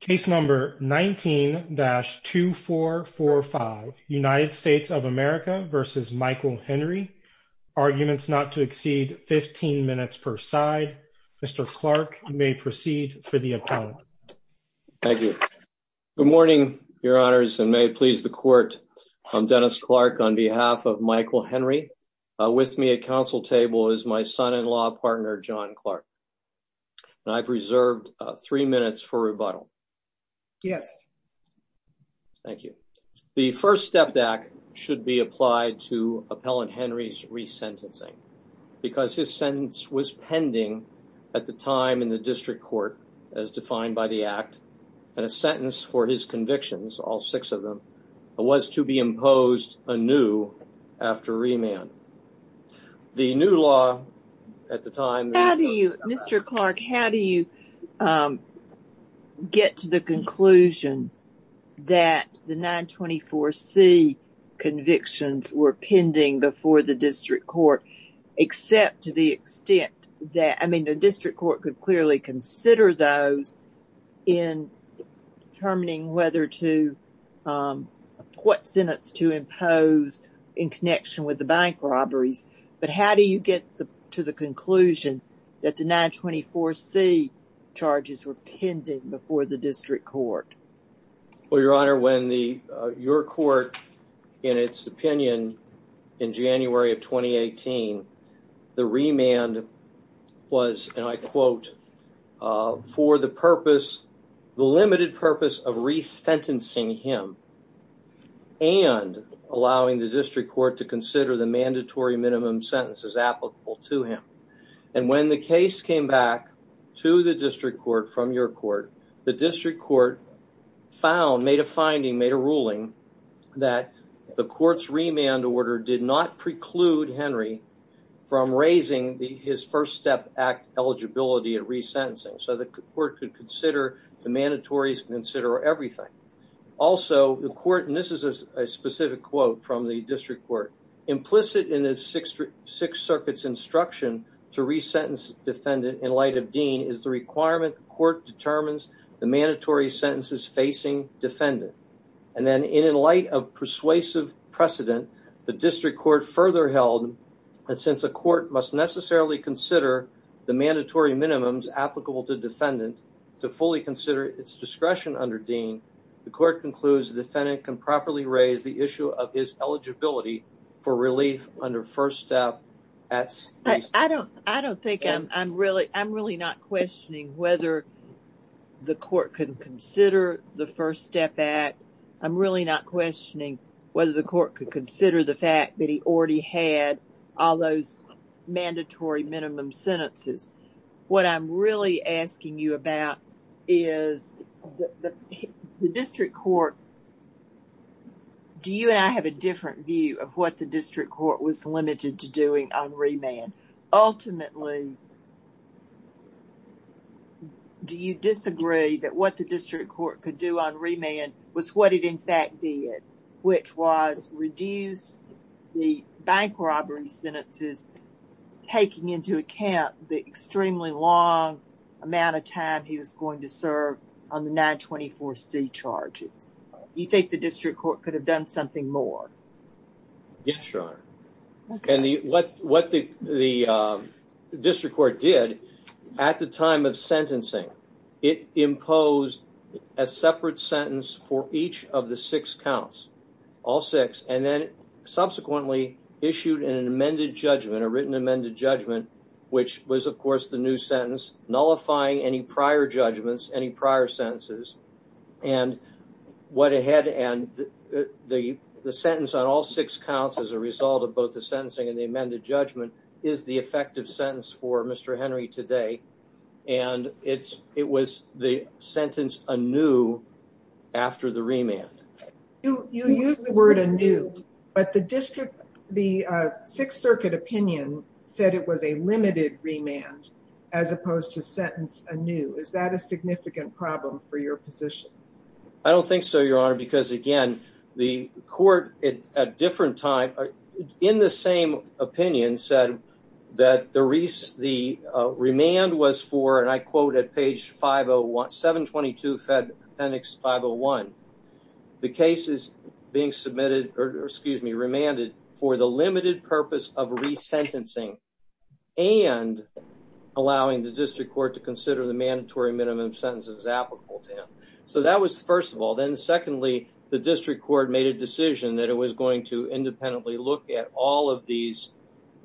Case number 19-2445 United States of America v. Michael Henry Arguments not to exceed 15 minutes per side Mr. Clark you may proceed for the appellant Thank you. Good morning your honors and may it please the court I'm Dennis Clark on behalf of Michael Henry with me at council table is my son-in-law partner John Clark and I've reserved three minutes for rebuttal Yes. Thank you. The first step back should be applied to appellant Henry's resentencing because his sentence was pending at the time in the district court as defined by the act and a sentence for his convictions all six of them was to be imposed anew after remand. The new law at the time Mr. Clark how do you get to the conclusion that the 924c convictions were pending before the district court except to the extent that I mean the district court could clearly consider those in determining whether to what sentence to impose in connection with the bank robberies but how do you get to the conclusion that the 924c charges were pending before the district court Well your honor when the your court in its opinion in January of 2018 the remand was and I quote for the purpose the limited purpose of resentencing him and allowing the district court to applicable to him and when the case came back to the district court from your court the district court found made a finding made a ruling that the court's remand order did not preclude Henry from raising the his first step act eligibility of resentencing so the court could consider the mandatories consider everything also the court and this is a specific quote from the district court implicit in the six six circuits instruction to resentence defendant in light of dean is the requirement the court determines the mandatory sentences facing defendant and then in light of persuasive precedent the district court further held and since the court must necessarily consider the mandatory minimums applicable to defendant to fully consider its discretion under dean the court concludes the defendant can properly raise the issue of his eligibility for relief under first step as I don't I don't think I'm really I'm really not questioning whether the court could consider the first step act I'm really not questioning whether the court could consider the fact that he already had all those mandatory minimum sentences what I'm really asking you about is the district court do you and I have a different view of what the district court was limited to doing on remand ultimately do you disagree that what the district court could do on remand was what it in fact did which was reduce the bank robbery sentences taking into account the extremely long amount of time he was going to serve on the 924c charges you think the district court could have done something more yes your honor and the what what the the district court did at the time of sentencing it imposed a separate sentence for each of the six counts all six and then subsequently issued an amended judgment a written amended judgment which was of course the new sentence nullifying any prior judgments any prior sentences and what it had and the the sentence on all six counts as a result of both the sentencing and the amended judgment is the effective sentence for Mr. Henry today and it's it was the sentence anew after the remand you you use the word anew but the district the uh sixth circuit opinion said it was a limited remand as opposed to sentence anew is that a significant problem for your position i don't think so your honor because again the court at a different time in the same opinion said that the reese the uh remand was for and i quote at page 501 722 fed appendix 501 the case is being submitted or excuse me remanded for the resentencing and allowing the district court to consider the mandatory minimum sentences applicable to him so that was first of all then secondly the district court made a decision that it was going to independently look at all of these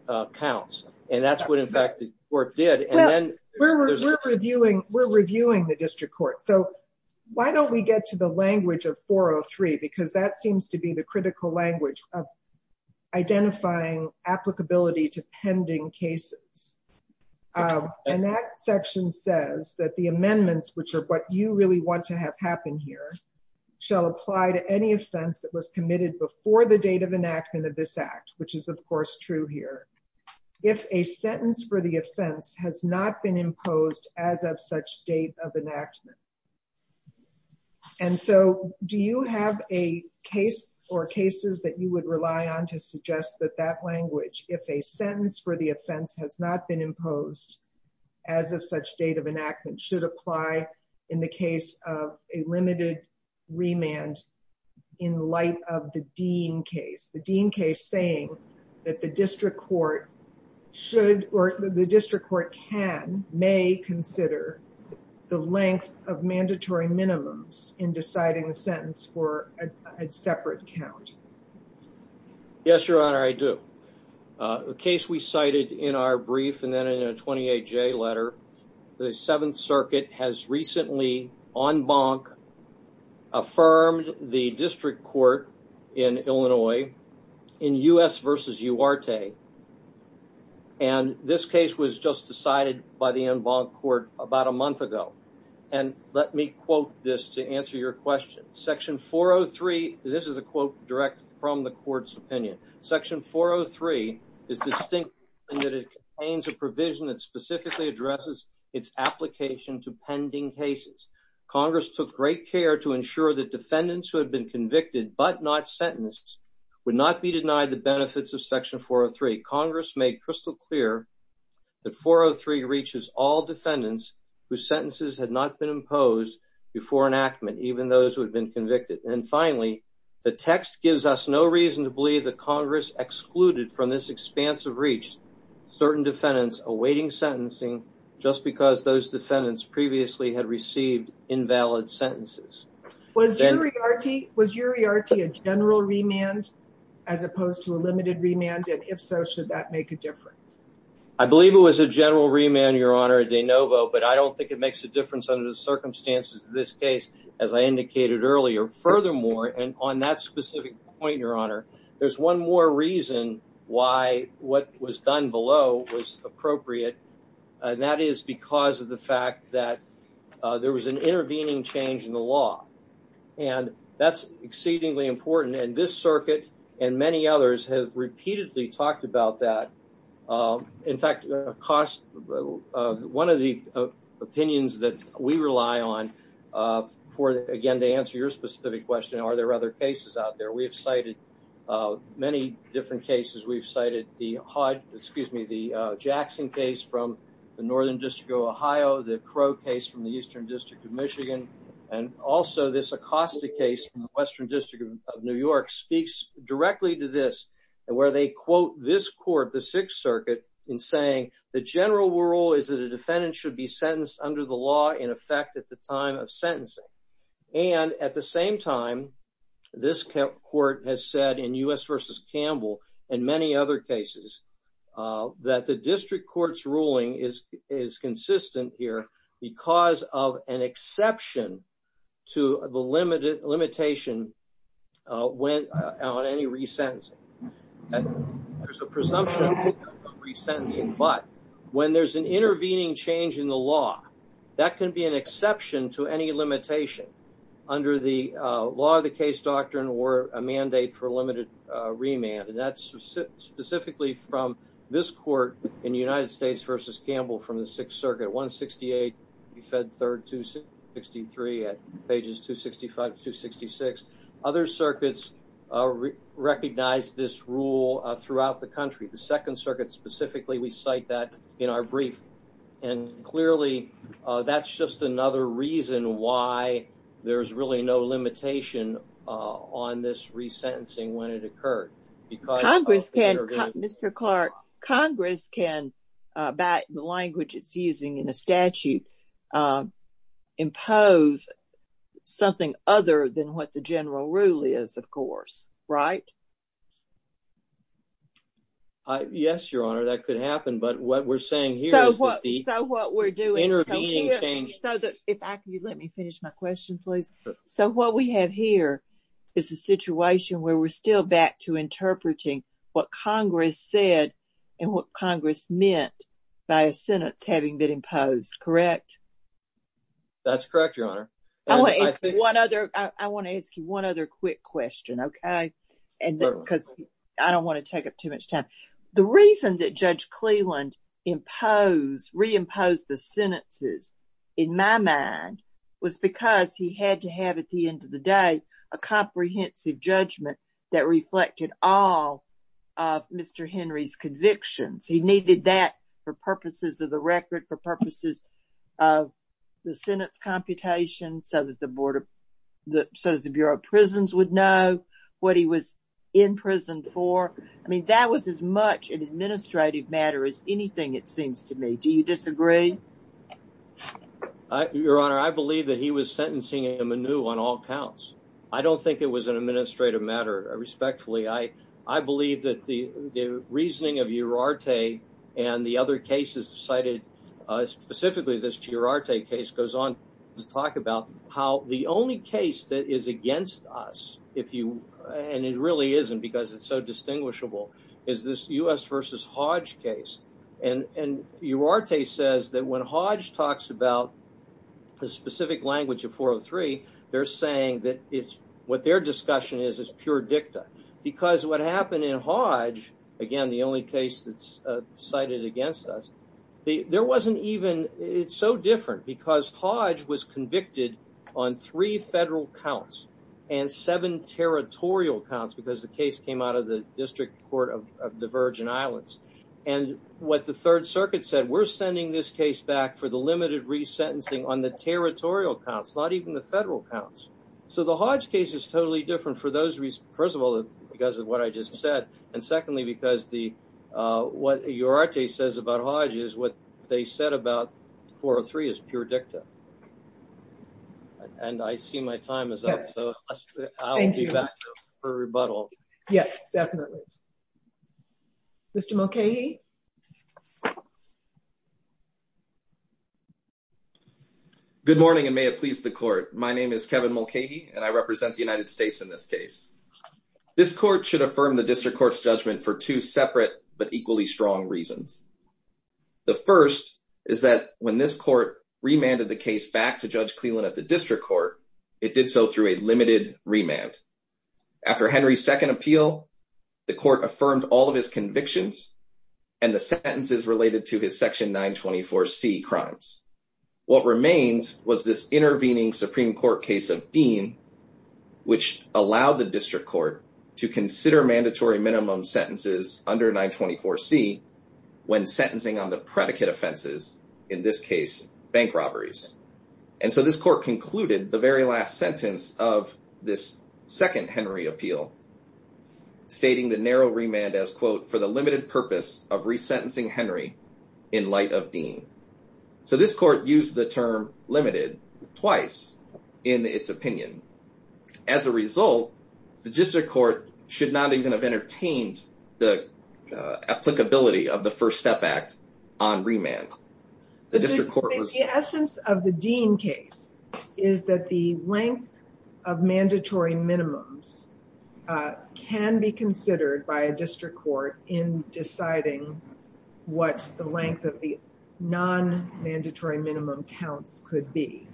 uh counts and that's what in fact the court did and then we're reviewing we're reviewing the district court so why don't we get to the language of 403 because that seems to be the critical language of identifying applicability to pending cases and that section says that the amendments which are what you really want to have happen here shall apply to any offense that was committed before the date of enactment of this act which is of course true here if a sentence for the offense has not been imposed as of such date of enactment and so do you have a case or cases that you would rely on to suggest that that language if a sentence for the offense has not been imposed as of such date of enactment should apply in the case of a limited remand in light of the dean case the dean case saying that the district court should or the minimums in deciding a sentence for a separate count yes your honor i do a case we cited in our brief and then in a 28j letter the seventh circuit has recently en banc affirmed the district court in illinois in u.s versus uarte and this case was just decided by the en banc court about a month ago and let me quote this to answer your question section 403 this is a quote direct from the court's opinion section 403 is distinct and that it contains a provision that specifically addresses its application to pending cases congress took great care to ensure that defendants who had been convicted but not sentenced would not be denied the benefits of whose sentences had not been imposed before enactment even those who had been convicted and finally the text gives us no reason to believe that congress excluded from this expanse of reach certain defendants awaiting sentencing just because those defendants previously had received invalid sentences was uri arty was uri arty a general remand as opposed to a limited remand and if so should that make a difference i believe it was a general remand your honor de novo but i don't think it makes a difference under the circumstances of this case as i indicated earlier furthermore and on that specific point your honor there's one more reason why what was done below was appropriate and that is because of the fact that there was an intervening change in the law and that's exceedingly important and this circuit and many others have repeatedly talked about that in fact cost one of the opinions that we rely on for again to answer your specific question are there other cases out there we have cited many different cases we've cited the hodge excuse me the jackson case from the northern district of ohio the crow case from the eastern district of michigan and also this acosta case from the western district of new york speaks directly to this and where they quote this court the sixth circuit in saying the general rule is that a defendant should be sentenced under the law in effect at the time of sentencing and at the same time this court has said in u.s versus campbell and many other cases uh that the district court's ruling is is consistent here because of an exception to the limited limitation uh when on any resentencing there's a presumption of resentencing but when there's an intervening change in the law that can be an exception to any limitation under the uh law of the case doctrine or a mandate for limited uh remand and that's specifically from this court in the united states versus campbell from the pages 265 to 266 other circuits uh recognized this rule throughout the country the second circuit specifically we cite that in our brief and clearly uh that's just another reason why there's really no limitation uh on this resentencing when it occurred because congress can mr clark congress can uh back the language it's using in a statute um impose something other than what the general rule is of course right uh yes your honor that could happen but what we're saying here is so what we're doing intervening change so that if i could you let me finish my question please so what we have here is a situation where we're still back to interpreting what congress said and what congress meant by a sentence having been imposed correct that's correct your honor i want to ask one other i want to ask you one other quick question okay and because i don't want to take up too much time the reason that judge cleland impose reimpose the sentences in my mind was because he had to have at the end of the day a comprehensive judgment that reflected all of mr henry's convictions he needed that for purposes of the record for purposes of the senate's computation so that the board of the so the bureau of prisons would know what he was in prison for i mean that was as much an administrative matter as anything it seems to me do you disagree your honor i believe that he was sentencing him anew on all counts i don't think it was an administrative matter respectfully i i believe that the the reasoning of urarte and the other cases cited uh specifically this urarte case goes on to talk about how the only case that is against us if you and it really isn't because it's so distinguishable is this u.s versus hodge case and and urarte says that when hodge talks about a specific language of 403 they're saying that it's what their discussion is is pure dicta because what happened in hodge again the only case that's uh cited against us there wasn't even it's so different because hodge was convicted on three federal counts and seven territorial counts because the case came out of the district court of the virgin islands and what the third circuit said we're sending this case back for the limited resentencing on the territorial counts not even the so the hodge case is totally different for those reasons first of all because of what i just said and secondly because the uh what urarte says about hodge is what they said about 403 is pure dicta and i see my time is up so i'll be back for rebuttal yes definitely mr mulcahy good morning and may it please the court my name is kevin mulcahy and i represent the united states in this case this court should affirm the district court's judgment for two separate but equally strong reasons the first is that when this court remanded the case back to judge cleland at the district court it did so through a limited remand after henry's second appeal the court affirmed all of his convictions and the sentences related to his section 924 c crimes what remains was this intervening supreme court case of dean which allowed the district court to consider mandatory minimum sentences under 924 c when sentencing on the predicate offenses in this case bank robberies and so this court concluded the very last sentence of this second henry appeal stating the narrow remand as quote for the limited purpose of resentencing henry in light of dean so this court used the term limited twice in its opinion as a result the district court should not even have entertained the applicability of the first step act on remand the district court was the essence of the dean case is that the length of mandatory minimums can be considered by a district court in deciding what the length of the non-mandatory minimum counts could be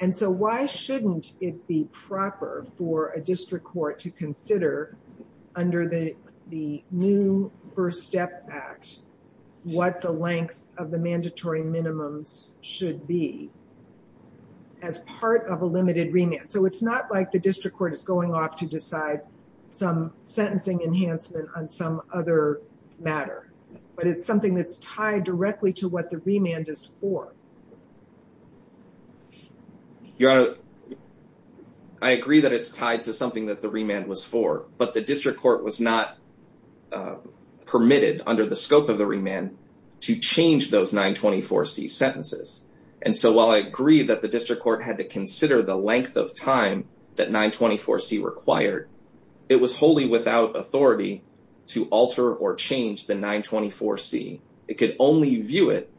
and so why shouldn't it be proper for a district court to consider under the the new first step act what the length of the mandatory minimums should be as part of a limited remand so it's not like the district court is going off to decide some sentencing enhancement on some other matter but it's something that's tied directly to what the remand is for your honor i agree that it's tied to something that the remand was for but the district court was not permitted under the scope of the remand to change those 924c sentences and so while i agree that the district court had to consider the length of time that 924c required it was wholly without authority to alter or change the 924c it could only view it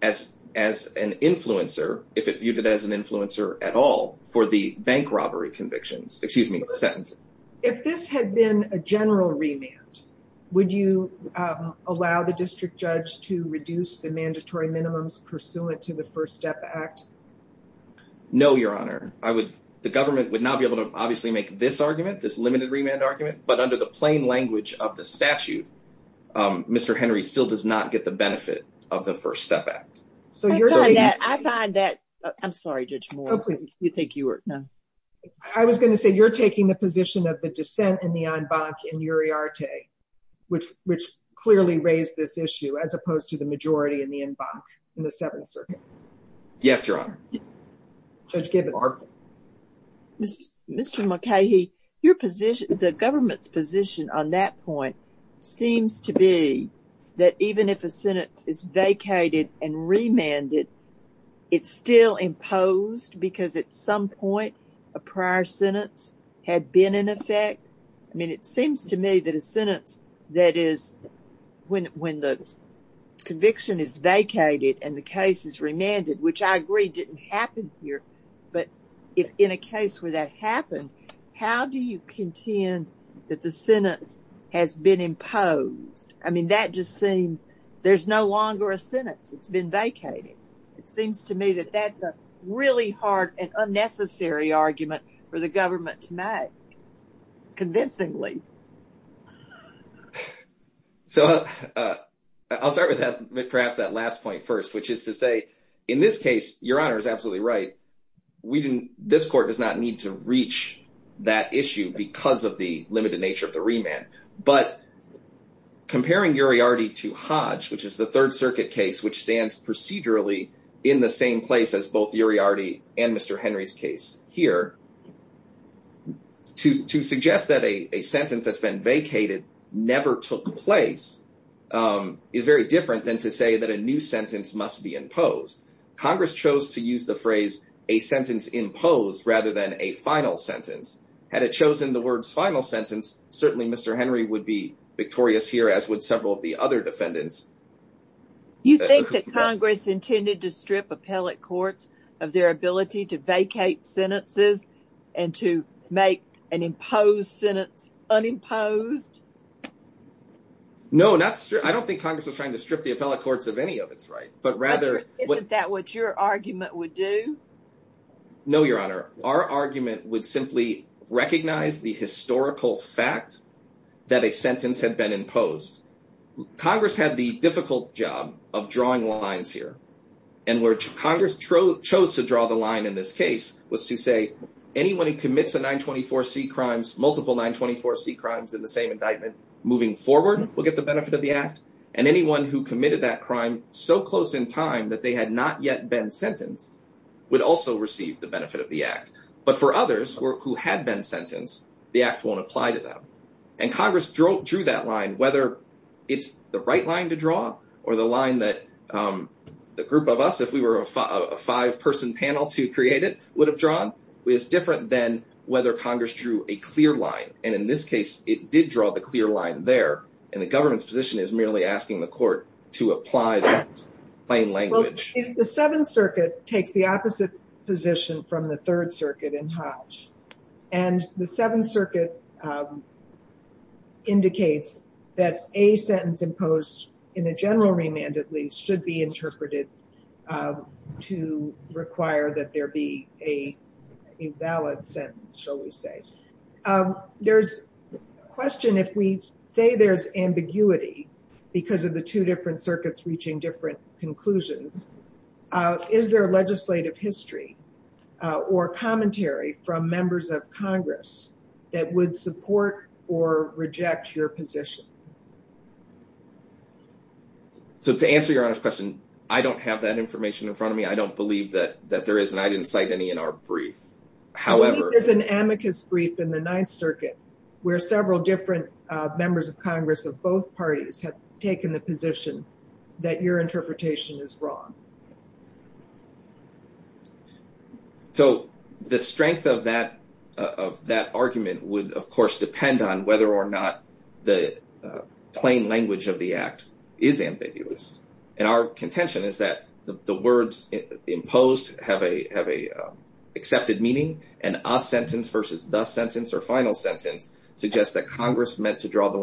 as as an influencer if it viewed it as an influencer at all for the bank robbery convictions excuse me sentence if this had been a general remand would you allow the district judge to reduce the mandatory minimums pursuant to the first step act no your honor i would the government would not be able to obviously make this argument this limited remand argument but under the plain language of the statute mr henry still does not get the benefit of the first step act so you're saying that i find that i'm sorry judge more please you think you were no i was going to say you're taking the position of the which which clearly raised this issue as opposed to the majority in the environment in the seventh circuit yes your honor judge given our mr mckay he your position the government's position on that point seems to be that even if a sentence is vacated and remanded it's still imposed because at some point a prior sentence had been in effect i mean it seems to me that a sentence that is when when the conviction is vacated and the case is remanded which i agree didn't happen here but if in a case where that happened how do you contend that the sentence has been imposed i mean that just seems there's no longer a sentence it's been vacated it seems to me that that's a really hard and unnecessary argument for the government to make convincingly so i'll start with that perhaps that last point first which is to say in this case your honor is absolutely right we didn't this court does not need to reach that issue because of the limited nature of the remand but comparing uriarty to hodge which is the third circuit case which stands procedurally in the same place as both uriarty and mr henry's case here to to suggest that a a sentence that's been vacated never took place um is very different than to say that a new sentence must be imposed congress chose to use the phrase a sentence imposed rather than a final sentence had it chosen the words final sentence certainly mr henry would be victorious here as would several of the other defendants you think that congress intended to strip appellate courts of their ability to vacate sentences and to make an imposed sentence unimposed no not sure i don't think congress was trying to strip the appellate courts of any of its right but rather isn't that what your argument would do no your honor our argument would simply recognize the historical fact that a sentence had been imposed congress had the difficult job of chose to draw the line in this case was to say anyone who commits a 924 c crimes multiple 924 c crimes in the same indictment moving forward will get the benefit of the act and anyone who committed that crime so close in time that they had not yet been sentenced would also receive the benefit of the act but for others who had been sentenced the act won't apply to them and congress drew that line whether it's the right line to draw or the line that um the group of us if we were a five person panel to create it would have drawn was different than whether congress drew a clear line and in this case it did draw the clear line there and the government's position is merely asking the court to apply that plain language the seventh circuit takes the opposite position from the third circuit in hodge and the seventh circuit um indicates that a sentence imposed in a general remand at least should be interpreted to require that there be a a valid sentence shall we say there's a question if we say there's ambiguity because of the two different circuits reaching different conclusions is there a legislative history or commentary from members of congress that would support or reject your position so to answer your honor's question i don't have that information in front of me i don't believe that that there is and i didn't cite any in our brief however there's an amicus brief in the ninth circuit where several different uh members of congress of both parties have taken the position that your interpretation is wrong so the strength of that of that argument would of course depend on whether or not the plain language of the act is ambiguous and our contention is that the words imposed have a have a accepted meaning and a sentence versus the sentence or final sentence suggests that congress meant to draw the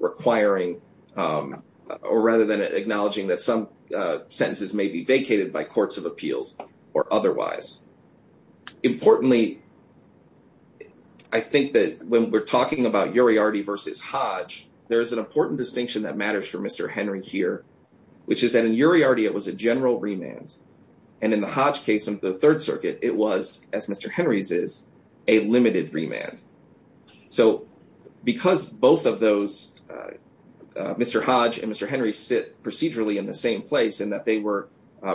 requiring um or rather than acknowledging that some sentences may be vacated by courts of appeals or otherwise importantly i think that when we're talking about uriarty versus hodge there is an important distinction that matters for mr henry here which is that in uriarty it was a general remand and in the hodge case of the third circuit it was as mr henry's is a limited remand so because both of those uh mr hodge and mr henry sit procedurally in the same place and that they were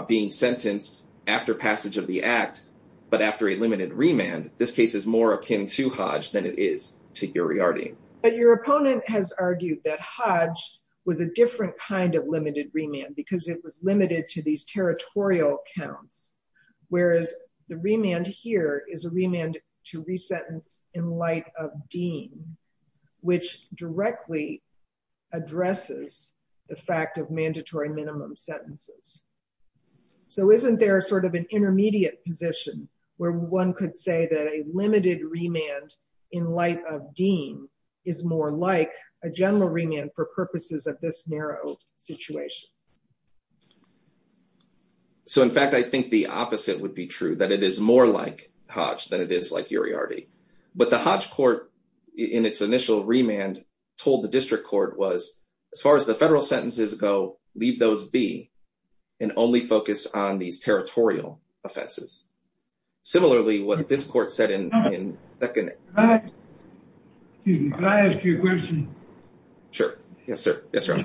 being sentenced after passage of the act but after a limited remand this case is more akin to hodge than it is to uriarty but your opponent has argued that hodge was a different kind of limited remand because it was limited to these territorial counts whereas the remand here is a remand to resentence in light of dean which directly addresses the fact of mandatory minimum sentences so isn't there sort of an intermediate position where one could say that a limited remand in light of dean is more like a general remand for purposes of this narrow situation so in fact i think the opposite would be true that it is more like hodge than it is like uriarty but the hodge court in its initial remand told the district court was as far as the federal sentences go leave those be and only focus on these territorial offenses similarly what this court said in in second excuse me could i ask you a question sure yes sir yes sir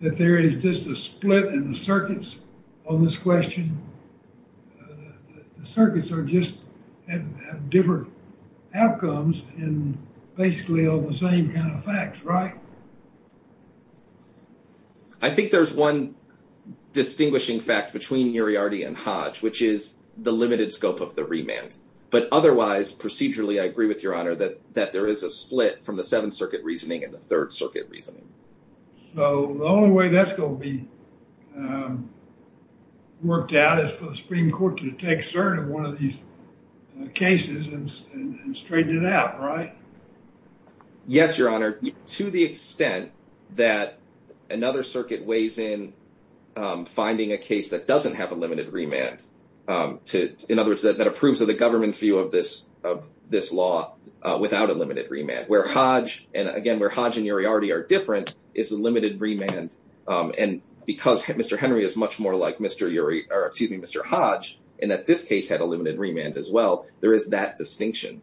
that there is just a split in the circuits on this question the circuits are just and have different outcomes and basically all the same kind of facts right i think there's one distinguishing fact between uriarty and hodge which is the limited scope of the remand but otherwise procedurally i agree with your honor that that there is a split from the seventh circuit reasoning and the third circuit reasoning so the only way that's going to be um worked out is for the supreme court to take cert of one of these cases and straighten it out right yes your honor to the extent that another circuit weighs in um finding a case that doesn't have a limited remand um to in other words that approves of the government's view of this of this law uh without a limited remand where hodge and again where hodge and uriarty are different is a limited remand um and because mr henry is much more like mr uri or excuse me mr hodge and that this case had a limited remand as well there is that distinction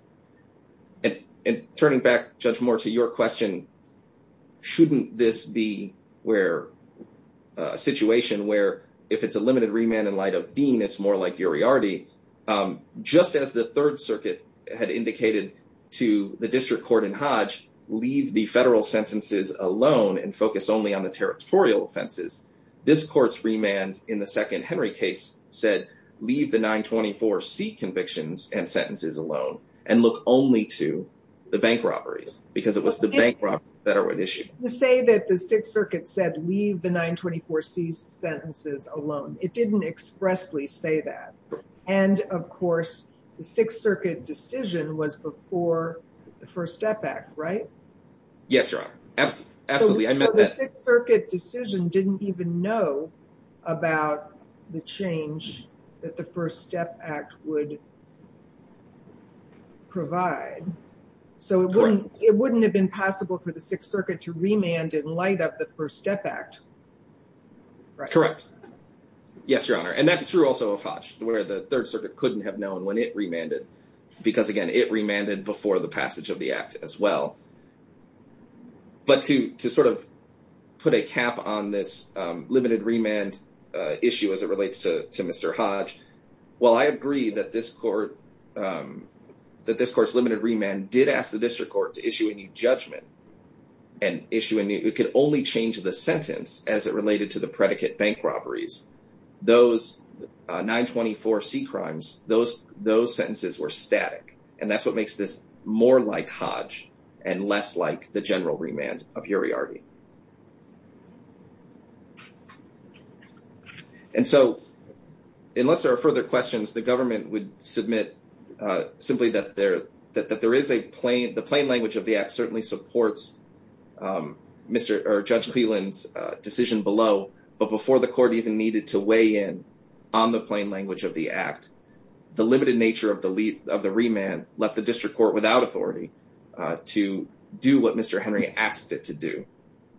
and and turning back judge more to your question shouldn't this be where a situation where if it's a limited remand in light of dean it's more like uriarty um just as the third circuit had indicated to the district court in hodge leave the federal sentences alone and focus only on the territorial offenses this court's remand in the second henry case said leave the 924 c convictions and sentences alone and look only to the bank robberies because it was the bank robbery federal issue say that the sixth circuit said leave the 924 c sentences alone it didn't expressly say that and of course the sixth circuit decision was before the first step act right yes your honor absolutely i meant that circuit decision didn't even know about the change that the first step act would provide so it wouldn't it wouldn't have been possible for the sixth circuit to remand and light up the first step act correct yes your honor and that's true also of hodge where the third circuit couldn't have known when it remanded because again it remanded before the passage of the act as well but to to sort of put a cap on this um limited remand uh issue as it relates to to mr hodge well i agree that this court um that this court's limited remand did ask the district court to issue a new judgment and issue a new it could only change the sentence as it related to the predicate bank robberies those 924 c crimes those those sentences were static and that's what makes this more like hodge and less like the general remand of uriarty and so unless there are further questions the government would submit uh simply that there that there is a plain the plain language of the act certainly supports um mr or judge cleland's decision below but before the court even needed to weigh in on the plain language of the act the limited nature of the lead of the remand left the district court without authority to do what mr henry asked it to do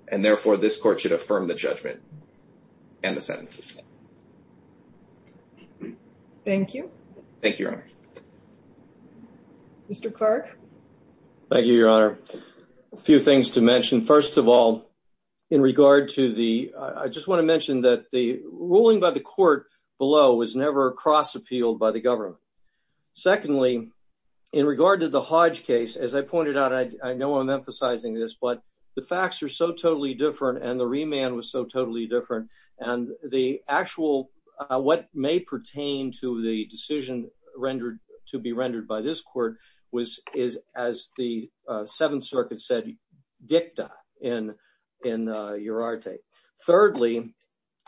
and therefore this court should affirm the judgment and the sentences thank you thank you your honor mr clark thank you your honor a few things to mention first of all in regard to the i just want to mention that the ruling by the court below was never cross appealed by the government secondly in regard to the hodge case as i pointed out i know i'm emphasizing this but the facts are so totally different and the remand was so totally different and the actual uh what may pertain to the decision rendered to be rendered by this court was is as the uh seventh circuit said dicta in in uh urarte thirdly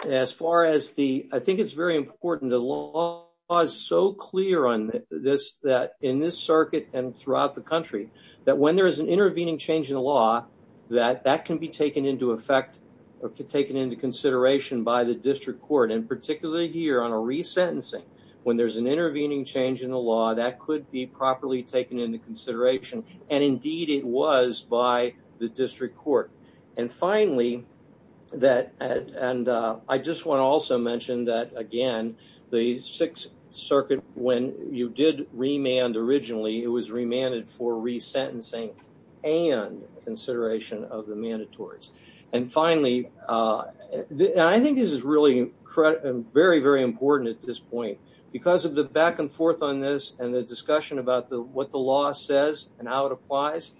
as far as the i think it's very important the law is so clear on this that in this circuit and throughout the country that when there is an intervening change in the law that that can be taken into effect or taken into consideration by the district court and particularly here on a resentencing when there's an intervening change in the law that could be properly taken into consideration and indeed it was by the district court and finally that and i just want to also mention that again the sixth circuit when you did remand originally it was remanded for resentencing and consideration of the mandatories and finally uh i think this is really very very important at this point because of the back and forth on this and the discussion about the what the law says and how it applies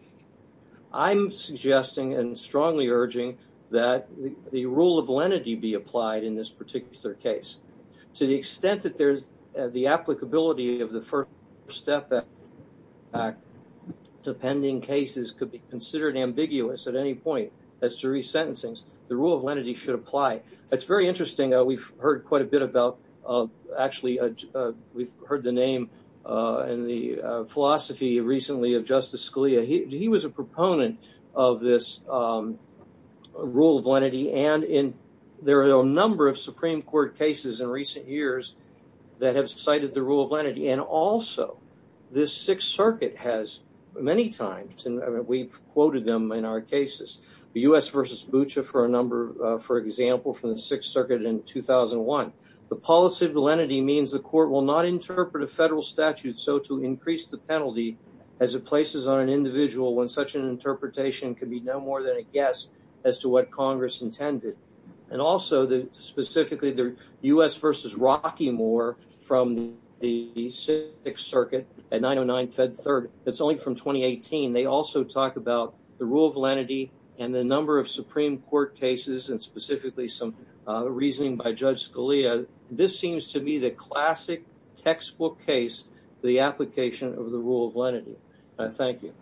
i'm suggesting and strongly urging that the rule of lenity be applied in this particular case to the extent that there's the applicability of the first step back depending cases could be considered ambiguous at any point as to resentencings the rule of lenity should apply it's very interesting uh we've heard quite a bit about uh actually uh we've heard the name uh and the philosophy recently of justice scalia he he was a proponent of this um rule of lenity and in there are a number of supreme court cases in recent years that have cited the rule of lenity and also this sixth circuit has many times and we've quoted them in our cases the u.s versus bucha for a number uh for example from the sixth circuit in 2001 the policy of validity means the court will not interpret a federal statute so to increase the penalty as it places on an individual when such an interpretation could be no more than a guess as to what congress intended and also the specifically the u.s versus rocky more from the sixth circuit at 909 fed third it's only from 2018 they also talk about rule of lenity and the number of supreme court cases and specifically some uh reasoning by judge scalia this seems to be the classic textbook case the application of the rule of lenity i thank you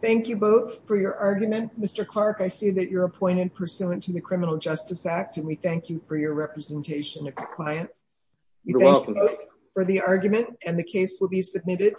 thank you both for your argument mr clark i see that you're appointed pursuant to the criminal justice act and we thank you for your representation of the client you're welcome for the argument and the case will be submitted